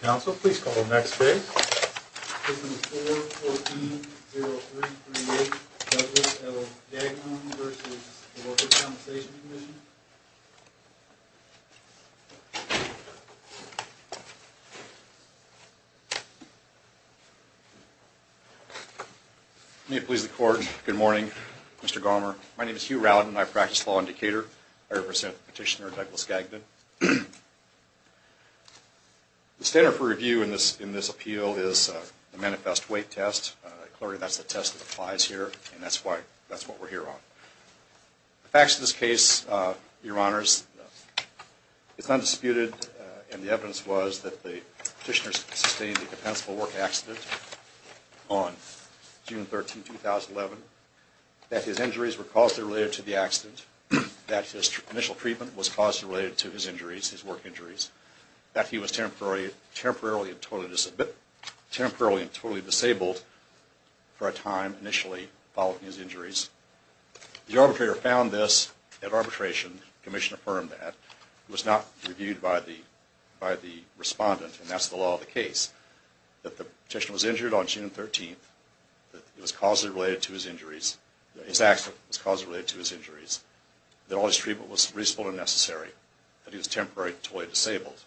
Council, please call the next case. Case number 4-14-0338 Douglas L. Gagnon v. Workers' Compensation Commission May it please the court. Good morning, Mr. Garmer. My name is Hugh Rowden and I practice law in Decatur. I represent Petitioner Douglas Gagnon. The standard for review in this appeal is a manifest weight test. Clearly, that's the test that applies here and that's what we're here on. The facts of this case, Your Honors, it's undisputed, and the evidence was, that the petitioner sustained a compensable work accident on June 13, 2011, that his injuries were causally related to the accident, that his initial treatment was causally related to his injuries, his work injuries, that he was temporarily and totally disabled for a time, initially, following his injuries. The arbitrator found this at arbitration, the commission affirmed that. It was not reviewed by the respondent, and that's the law of the case, that the petitioner was injured on June 13, that it was causally related to his injuries, that his accident was causally related to his injuries, that all his treatment was reasonable and necessary, that he was temporarily and totally disabled,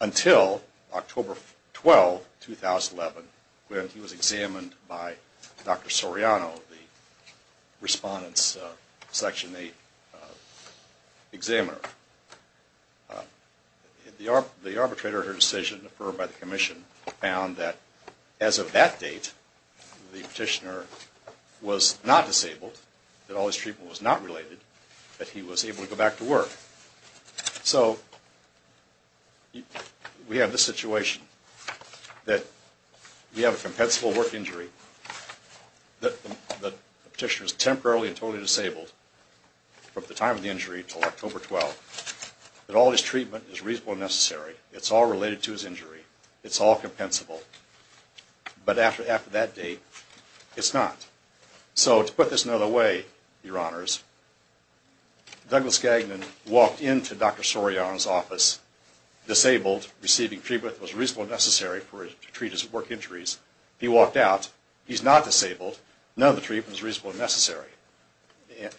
until October 12, 2011, when he was examined by Dr. Soriano, the respondent's Section 8 examiner. The arbitrator, her decision, affirmed by the commission, found that as of that date, the petitioner was not disabled, that all his treatment was not related, that he was able to go back to work. So, we have this situation, that we have a compensable work injury, that the petitioner is temporarily and totally disabled from the time of the injury until October 12, that all his treatment is reasonable and necessary, it's all related to his injury, it's all compensable, but after that date, it's not. So, to put this another way, Your Honors, Douglas Gagnon walked into Dr. Soriano's office, disabled, receiving treatment that was reasonable and necessary to treat his work injuries, he walked out, he's not disabled, none of the treatment was reasonable and necessary,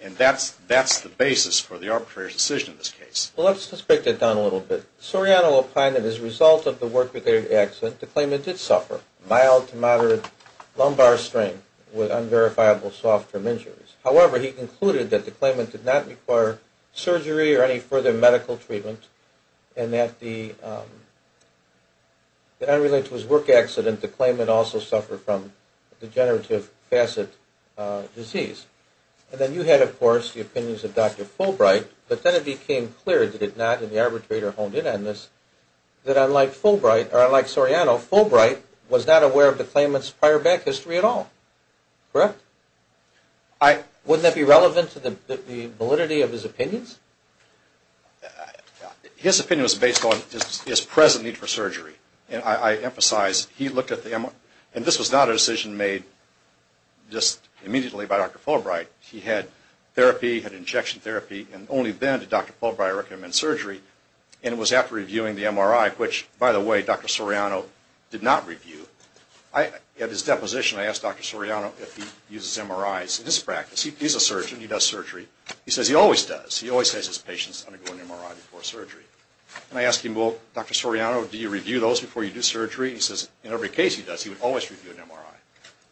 and that's the basis for the arbitrator's decision in this case. Well, let's just break that down a little bit. Soriano opined that as a result of the work-related accident, the claimant did suffer mild to moderate lumbar strain with unverifiable soft-term injuries. However, he concluded that the claimant did not require surgery or any further medical treatment and that unrelated to his work accident, the claimant also suffered from degenerative facet disease. And then you had, of course, the opinions of Dr. Fulbright, but then it became clear, did it not, and the arbitrator honed in on this, that unlike Fulbright, or unlike Soriano, Fulbright was not aware of the claimant's prior back history at all. Correct? Wouldn't that be relevant to the validity of his opinions? His opinion was based on his present need for surgery. And I emphasize, he looked at the MRI, and this was not a decision made just immediately by Dr. Fulbright. He had therapy, had injection therapy, and only then did Dr. Fulbright recommend surgery, and it was after reviewing the MRI, which, by the way, Dr. Soriano did not review. At his deposition, I asked Dr. Soriano if he uses MRIs in his practice. He's a surgeon, he does surgery. He says he always does. He always has his patients undergo an MRI before surgery. And I asked him, well, Dr. Soriano, do you review those before you do surgery? He says in every case he does, he would always review an MRI.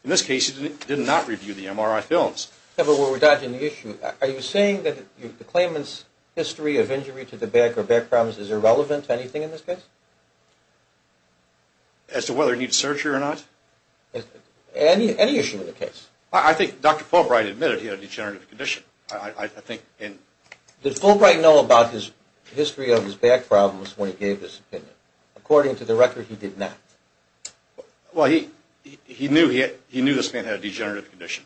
In this case, he did not review the MRI films. Kevin, we're dodging the issue. Are you saying that the claimant's history of injury to the back or back problems is irrelevant to anything in this case? As to whether he needs surgery or not? Any issue in the case. I think Dr. Fulbright admitted he had a degenerative condition. I think in – Did Fulbright know about his history of his back problems when he gave his opinion? According to the record, he did not. Well, he knew this man had a degenerative condition.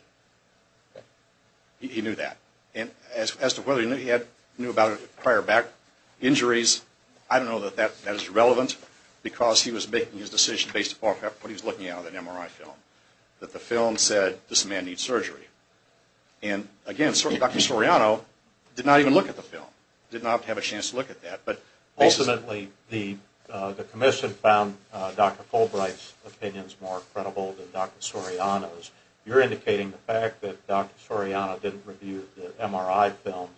He knew that. And as to whether he knew about it prior to back injuries, I don't know that that is relevant because he was making his decision based upon what he was looking at in that MRI film, that the film said this man needs surgery. And, again, Dr. Soriano did not even look at the film, did not have a chance to look at that. Ultimately, the commission found Dr. Fulbright's opinions more credible than Dr. Soriano's. You're indicating the fact that Dr. Soriano didn't review the MRI films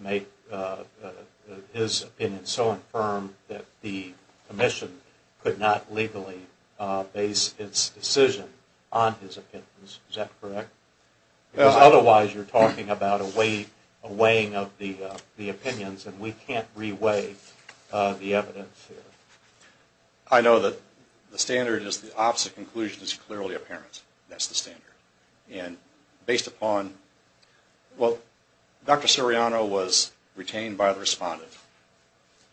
make his opinion so infirm that the commission could not legally base its decision on his opinions. Is that correct? Because otherwise you're talking about a weighing of the opinions, and we can't re-weigh the evidence here. I know that the standard is the opposite conclusion is clearly apparent. That's the standard. And based upon – well, Dr. Soriano was retained by the respondent.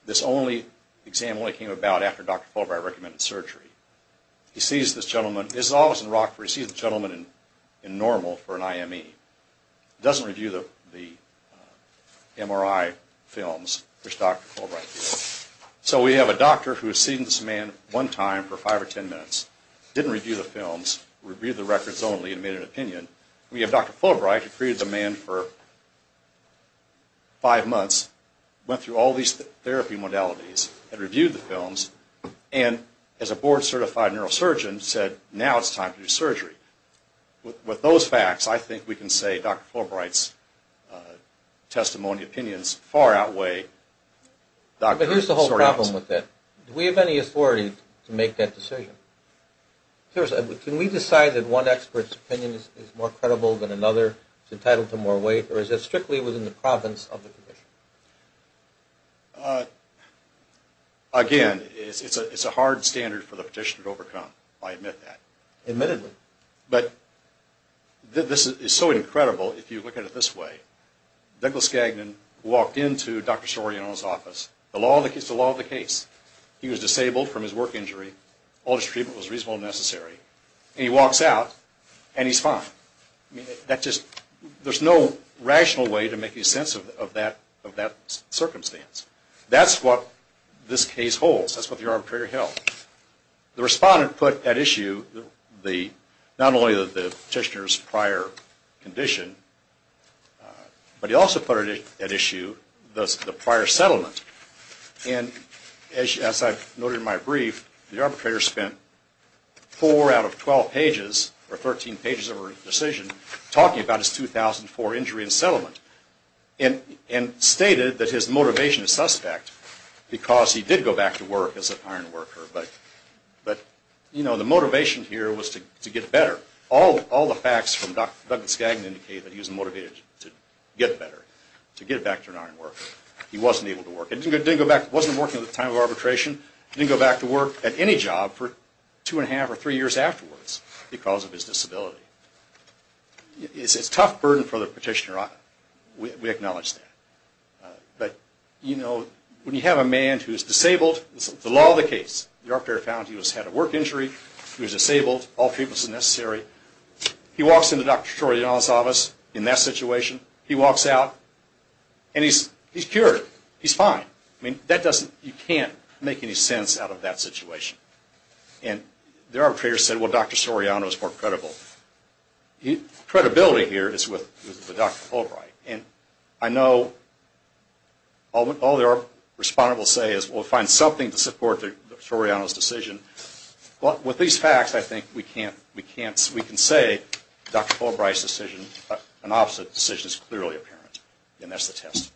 This only – the exam only came about after Dr. Fulbright recommended surgery. He sees this gentleman. This is always in Rockford. He sees this gentleman in normal for an IME. He doesn't review the MRI films, which Dr. Fulbright did. So we have a doctor who has seen this man one time for five or ten minutes, didn't review the films, reviewed the records only, and made an opinion. We have Dr. Fulbright who treated the man for five months, went through all these therapy modalities, and reviewed the films. And as a board-certified neurosurgeon said, now it's time to do surgery. With those facts, I think we can say Dr. Fulbright's testimony, opinions far outweigh Dr. Soriano's. But here's the whole problem with that. Do we have any authority to make that decision? Can we decide that one expert's opinion is more credible than another, is entitled to more weight, or is it strictly within the province of the condition? Again, it's a hard standard for the petitioner to overcome. I admit that. Admittedly. But this is so incredible if you look at it this way. Douglas Gagnon walked into Dr. Soriano's office. It's the law of the case. He was disabled from his work injury. All his treatment was reasonable and necessary. And he walks out, and he's fine. There's no rational way to make any sense of that circumstance. That's what this case holds. That's what the arbitrator held. The respondent put at issue not only the petitioner's prior condition, but he also put at issue the prior settlement. And as I noted in my brief, the arbitrator spent four out of 12 pages or 13 pages of her decision talking about his 2004 injury and settlement and stated that his motivation is suspect because he did go back to work as an ironworker. But, you know, the motivation here was to get better. All the facts from Douglas Gagnon indicate that he was motivated to get better, to get back to an ironworker. He wasn't able to work. He didn't go back. He wasn't working at the time of arbitration. He didn't go back to work at any job for two and a half or three years afterwards because of his disability. It's a tough burden for the petitioner. We acknowledge that. But, you know, when you have a man who is disabled, the law of the case, the arbitrator found he had a work injury. He was disabled. All treatment was necessary. He walks into Dr. Shor's office in that situation. He walks out, and he's cured. He's fine. I mean, you can't make any sense out of that situation. And the arbitrator said, well, Dr. Soriano is more credible. Credibility here is with Dr. Fulbright. And I know all that our respondents say is, we'll find something to support Dr. Soriano's decision. Well, with these facts, I think we can say Dr. Fulbright's decision, an opposite decision, is clearly apparent. And that's the test.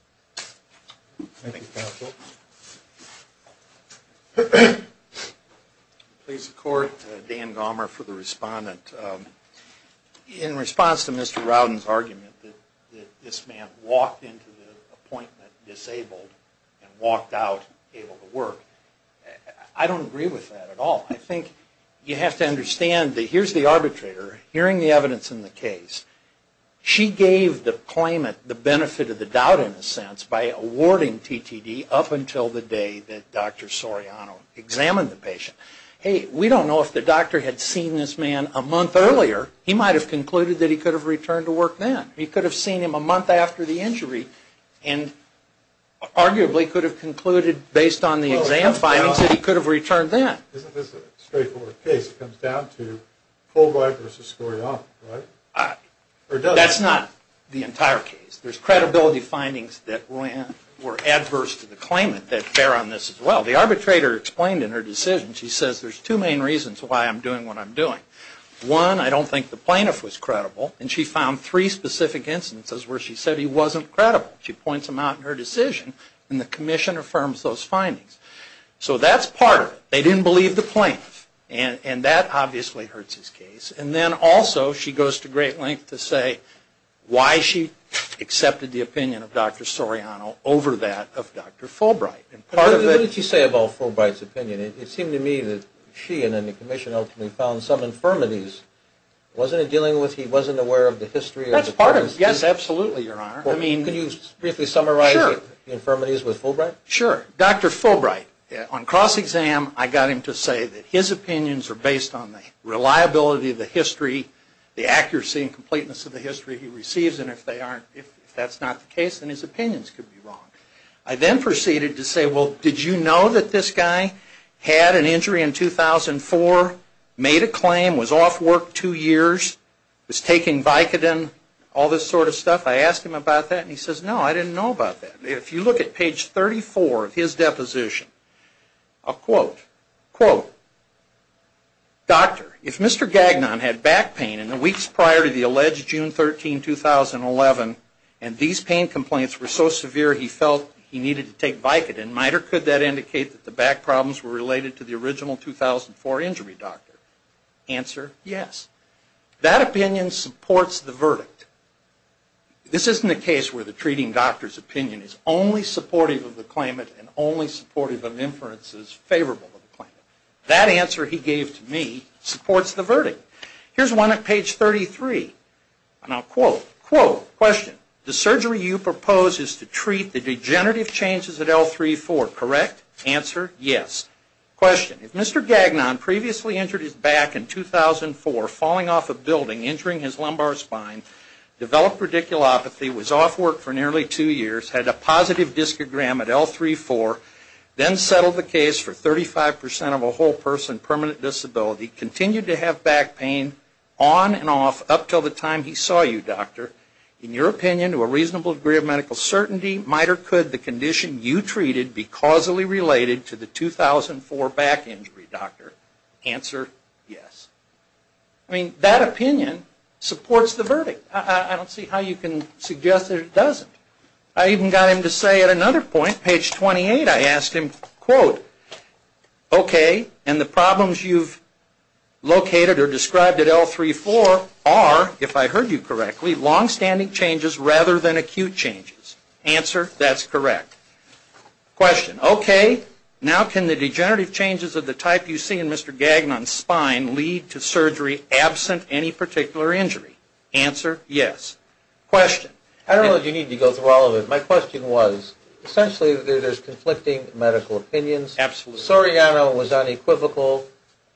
Thank you, counsel. Please support Dan Gomer for the respondent. In response to Mr. Rowden's argument that this man walked into the appointment disabled and walked out able to work, I don't agree with that at all. I think you have to understand that here's the arbitrator hearing the evidence in the case. She gave the claimant the benefit of the doubt, in a sense, by awarding TTD up until the day that Dr. Soriano examined the patient. Hey, we don't know if the doctor had seen this man a month earlier. He might have concluded that he could have returned to work then. He could have seen him a month after the injury and arguably could have concluded, based on the exam findings, that he could have returned then. Isn't this a straightforward case? It comes down to Fulbright versus Soriano, right? That's not the entire case. There's credibility findings that were adverse to the claimant that bear on this as well. The arbitrator explained in her decision, she says, there's two main reasons why I'm doing what I'm doing. One, I don't think the plaintiff was credible, and she found three specific instances where she said he wasn't credible. She points them out in her decision, and the commission affirms those findings. So that's part of it. They didn't believe the plaintiff, and that obviously hurts his case. And then also she goes to great lengths to say why she accepted the opinion of Dr. Soriano over that of Dr. Fulbright. What did you say about Fulbright's opinion? It seemed to me that she and then the commission ultimately found some infirmities. Wasn't it dealing with he wasn't aware of the history of the person? That's part of it. Yes, absolutely, Your Honor. Can you briefly summarize the infirmities with Fulbright? Sure. Dr. Fulbright, on cross-exam, I got him to say that his opinions are based on the reliability of the history, the accuracy and completeness of the history he receives, and if that's not the case, then his opinions could be wrong. I then proceeded to say, well, did you know that this guy had an injury in 2004, made a claim, was off work two years, was taking Vicodin, all this sort of stuff? I asked him about that, and he says, no, I didn't know about that. If you look at page 34 of his deposition, I'll quote, quote, Doctor, if Mr. Gagnon had back pain in the weeks prior to the alleged June 13, 2011, and these pain complaints were so severe he felt he needed to take Vicodin, might or could that indicate that the back problems were related to the original 2004 injury, Doctor? That opinion supports the verdict. This isn't a case where the treating doctor's opinion is only supportive of the claimant and only supportive of inferences favorable to the claimant. That answer he gave to me supports the verdict. Here's one at page 33, and I'll quote, quote, question, the surgery you propose is to treat the degenerative changes at L3-4, correct? Answer, yes. Question, if Mr. Gagnon previously injured his back in 2004, falling off a building, injuring his lumbar spine, developed radiculopathy, was off work for nearly two years, had a positive discogram at L3-4, then settled the case for 35% of a whole person permanent disability, continued to have back pain on and off up until the time he saw you, Doctor, in your opinion, to a reasonable degree of medical certainty, might or could the condition you treated be causally related to the 2004 back injury, Doctor? Answer, yes. I mean, that opinion supports the verdict. I don't see how you can suggest that it doesn't. I even got him to say at another point, page 28, I asked him, quote, okay, and the problems you've located or described at L3-4 are, if I heard you correctly, longstanding changes rather than acute changes. Answer, that's correct. Question. Okay, now can the degenerative changes of the type you see in Mr. Gagnon's spine lead to surgery absent any particular injury? Answer, yes. Question. I don't know if you need to go through all of it. My question was, essentially, there's conflicting medical opinions. Soriano was unequivocal.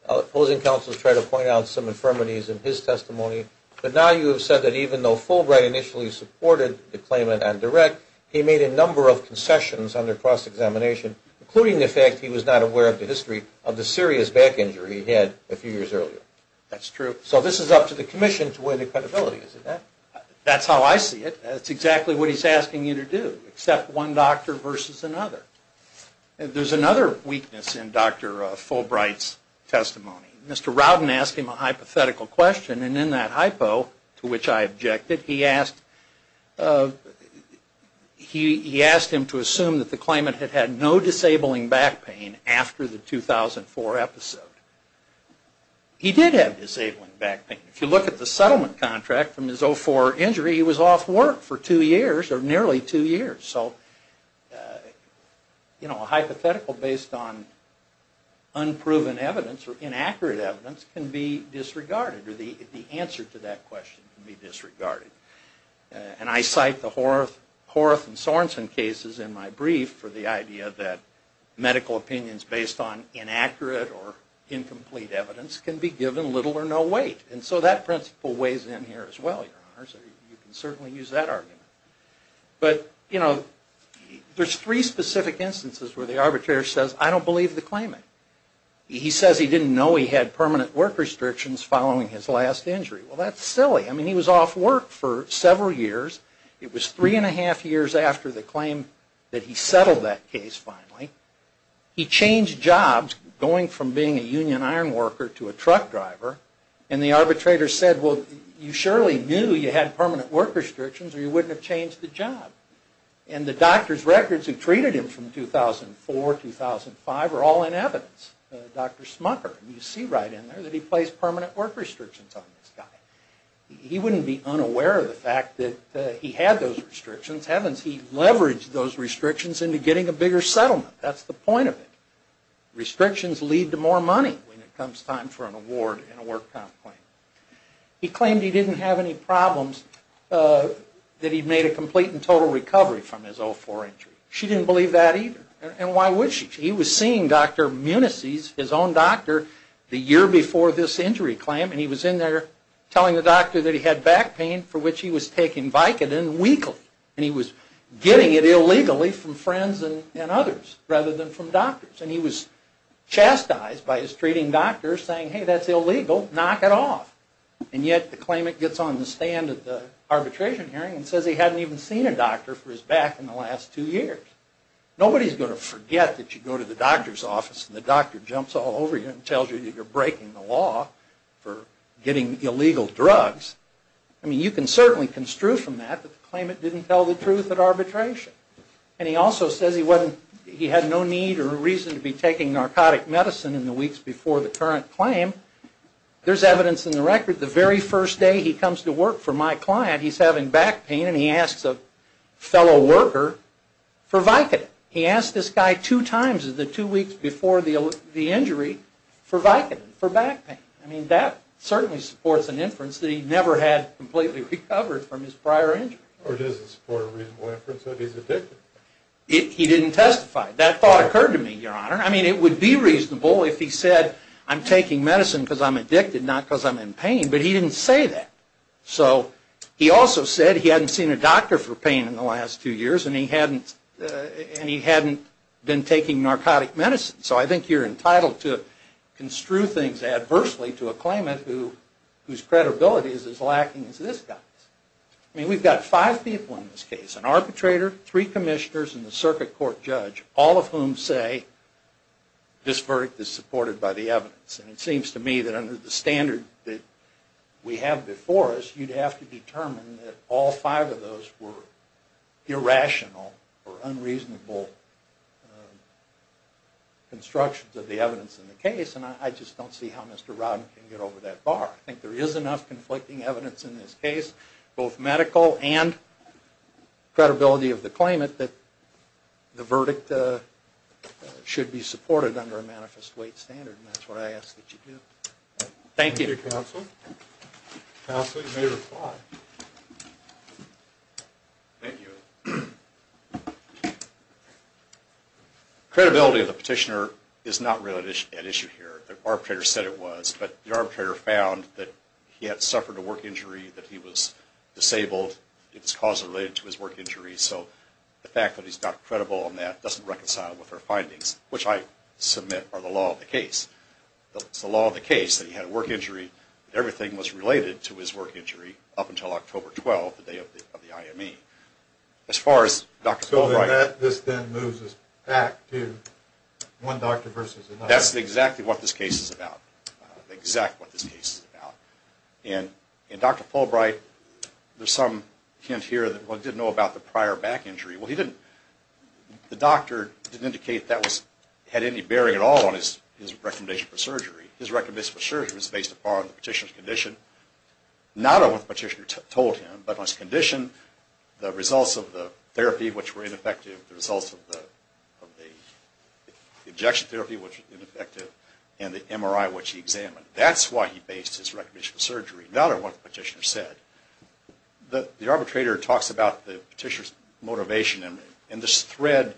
Opposing counsels tried to point out some infirmities in his testimony. But now you have said that even though Fulbright initially supported the claimant on direct, he made a number of concessions under cross-examination, including the fact he was not aware of the history of the serious back injury he had a few years earlier. That's true. So this is up to the commission to win the credibility, is it not? That's how I see it. That's exactly what he's asking you to do, accept one doctor versus another. There's another weakness in Dr. Fulbright's testimony. Mr. Rowden asked him a hypothetical question, and in that hypo, to which I objected, he asked him to assume that the claimant had had no disabling back pain after the 2004 episode. He did have disabling back pain. If you look at the settlement contract from his 04 injury, he was off work for two years, or nearly two years. So, you know, a hypothetical based on unproven evidence or inaccurate evidence can be disregarded, or the answer to that question can be disregarded. And I cite the Horth and Sorensen cases in my brief for the idea that medical opinions based on inaccurate or incomplete evidence can be given little or no weight. And so that principle weighs in here as well, Your Honors. You can certainly use that argument. But, you know, there's three specific instances where the arbitrator says, I don't believe the claimant. He says he didn't know he had permanent work restrictions following his last injury. Well, that's silly. I mean, he was off work for several years. It was three and a half years after the claim that he settled that case finally. He changed jobs, going from being a union iron worker to a truck driver, and the arbitrator said, well, you surely knew you had permanent work restrictions or you wouldn't have changed the job. And the doctor's records that treated him from 2004, 2005 are all in evidence. Dr. Smucker, you see right in there that he placed permanent work restrictions on this guy. He wouldn't be unaware of the fact that he had those restrictions. Heavens, he leveraged those restrictions into getting a bigger settlement. That's the point of it. Restrictions lead to more money when it comes time for an award and a work comp claim. He claimed he didn't have any problems that he'd made a complete and total recovery from his 2004 injury. She didn't believe that either. And why would she? He was seeing Dr. Munacy's, his own doctor, the year before this injury claim, and he was in there telling the doctor that he had back pain for which he was taking Vicodin weekly. And he was getting it illegally from friends and others rather than from doctors. And he was chastised by his treating doctor saying, hey, that's illegal. Knock it off. And yet the claimant gets on the stand at the arbitration hearing and says he hadn't even seen a doctor for his back in the last two years. Nobody's going to forget that you go to the doctor's office and the doctor jumps all over you and tells you that you're breaking the law for getting illegal drugs. I mean, you can certainly construe from that that the claimant didn't tell the truth at arbitration. And he also says he had no need or reason to be taking narcotic medicine in the weeks before the current claim. There's evidence in the record the very first day he comes to work for my client, he's having back pain and he asks a fellow worker for Vicodin. He asked this guy two times in the two weeks before the injury for Vicodin, for back pain. I mean, that certainly supports an inference that he never had completely recovered from his prior injury. Or does it support a reasonable inference that he's addicted? He didn't testify. That thought occurred to me, Your Honor. I mean, it would be reasonable if he said, I'm taking medicine because I'm addicted, not because I'm in pain. But he didn't say that. So he also said he hadn't seen a doctor for pain in the last two years and he hadn't been taking narcotic medicine. So I think you're entitled to construe things adversely to a claimant whose credibility is as lacking as this guy's. I mean, we've got five people in this case. An arbitrator, three commissioners, and the circuit court judge, all of whom say this verdict is supported by the evidence. And it seems to me that under the standard that we have before us, you'd have to determine that all five of those were irrational or unreasonable constructions of the evidence in the case. And I just don't see how Mr. Rodden can get over that bar. I think there is enough conflicting evidence in this case, both medical and credibility of the claimant, that the verdict should be supported under a manifest weight standard. And that's what I ask that you do. Thank you. Thank you, Counsel. Counsel, you may reply. Thank you. Credibility of the petitioner is not really at issue here. The arbitrator said it was. But the arbitrator found that he had suffered a work injury, that he was disabled. It was causally related to his work injury. So the fact that he's not credible on that doesn't reconcile with our findings, which I submit are the law of the case. It's the law of the case that he had a work injury. Everything was related to his work injury up until October 12, the day of the IME. As far as Dr. Fulbright. So this then moves us back to one doctor versus another. That's exactly what this case is about, exactly what this case is about. And Dr. Fulbright, there's some hint here that he didn't know about the prior back injury. Well, the doctor didn't indicate that had any bearing at all on his recommendation for surgery. His recommendation for surgery was based upon the petitioner's condition, not on what the petitioner told him, but on his condition, the results of the therapy, which were ineffective, the results of the injection therapy, which was ineffective, and the MRI, which he examined. That's why he based his recommendation for surgery, not on what the petitioner said. The arbitrator talks about the petitioner's motivation, and the thread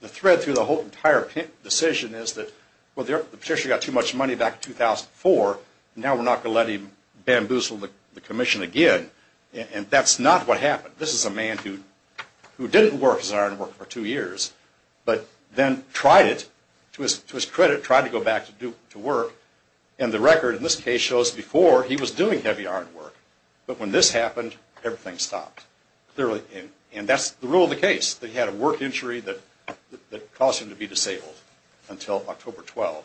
through the whole entire decision is that, well, the petitioner got too much money back in 2004, and now we're not going to let him bamboozle the commission again. And that's not what happened. This is a man who didn't work as an iron worker for two years, but then tried it, to his credit, tried to go back to work, and the record in this case shows before he was doing heavy iron work, but when this happened, everything stopped. And that's the rule of the case, that he had a work injury that caused him to be disabled until October 12.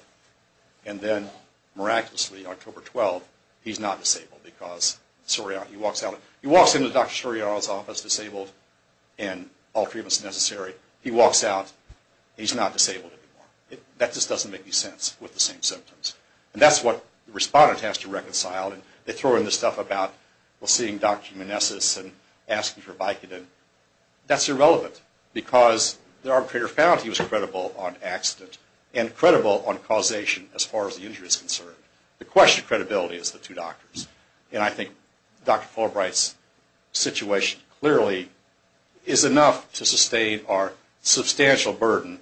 And then, miraculously, October 12, he's not disabled because he walks out. He walks into Dr. Soriano's office disabled in all treatments necessary. He walks out, and he's not disabled anymore. That just doesn't make any sense with the same symptoms. And that's what the respondent has to reconcile, and they throw in this stuff about seeing Dr. Manessis and asking for Vicodin. That's irrelevant because the arbitrator found he was credible on accident and credible on causation as far as the injury is concerned. The question of credibility is the two doctors, and I think Dr. Fulbright's situation clearly is enough to sustain our substantial burden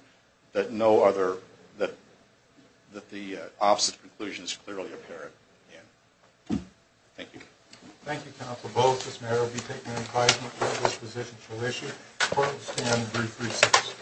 that no other, that the opposite conclusion is clearly apparent. Thank you. Thank you, counsel. Both this matter will be taken into consideration. Court will stand at brief recess.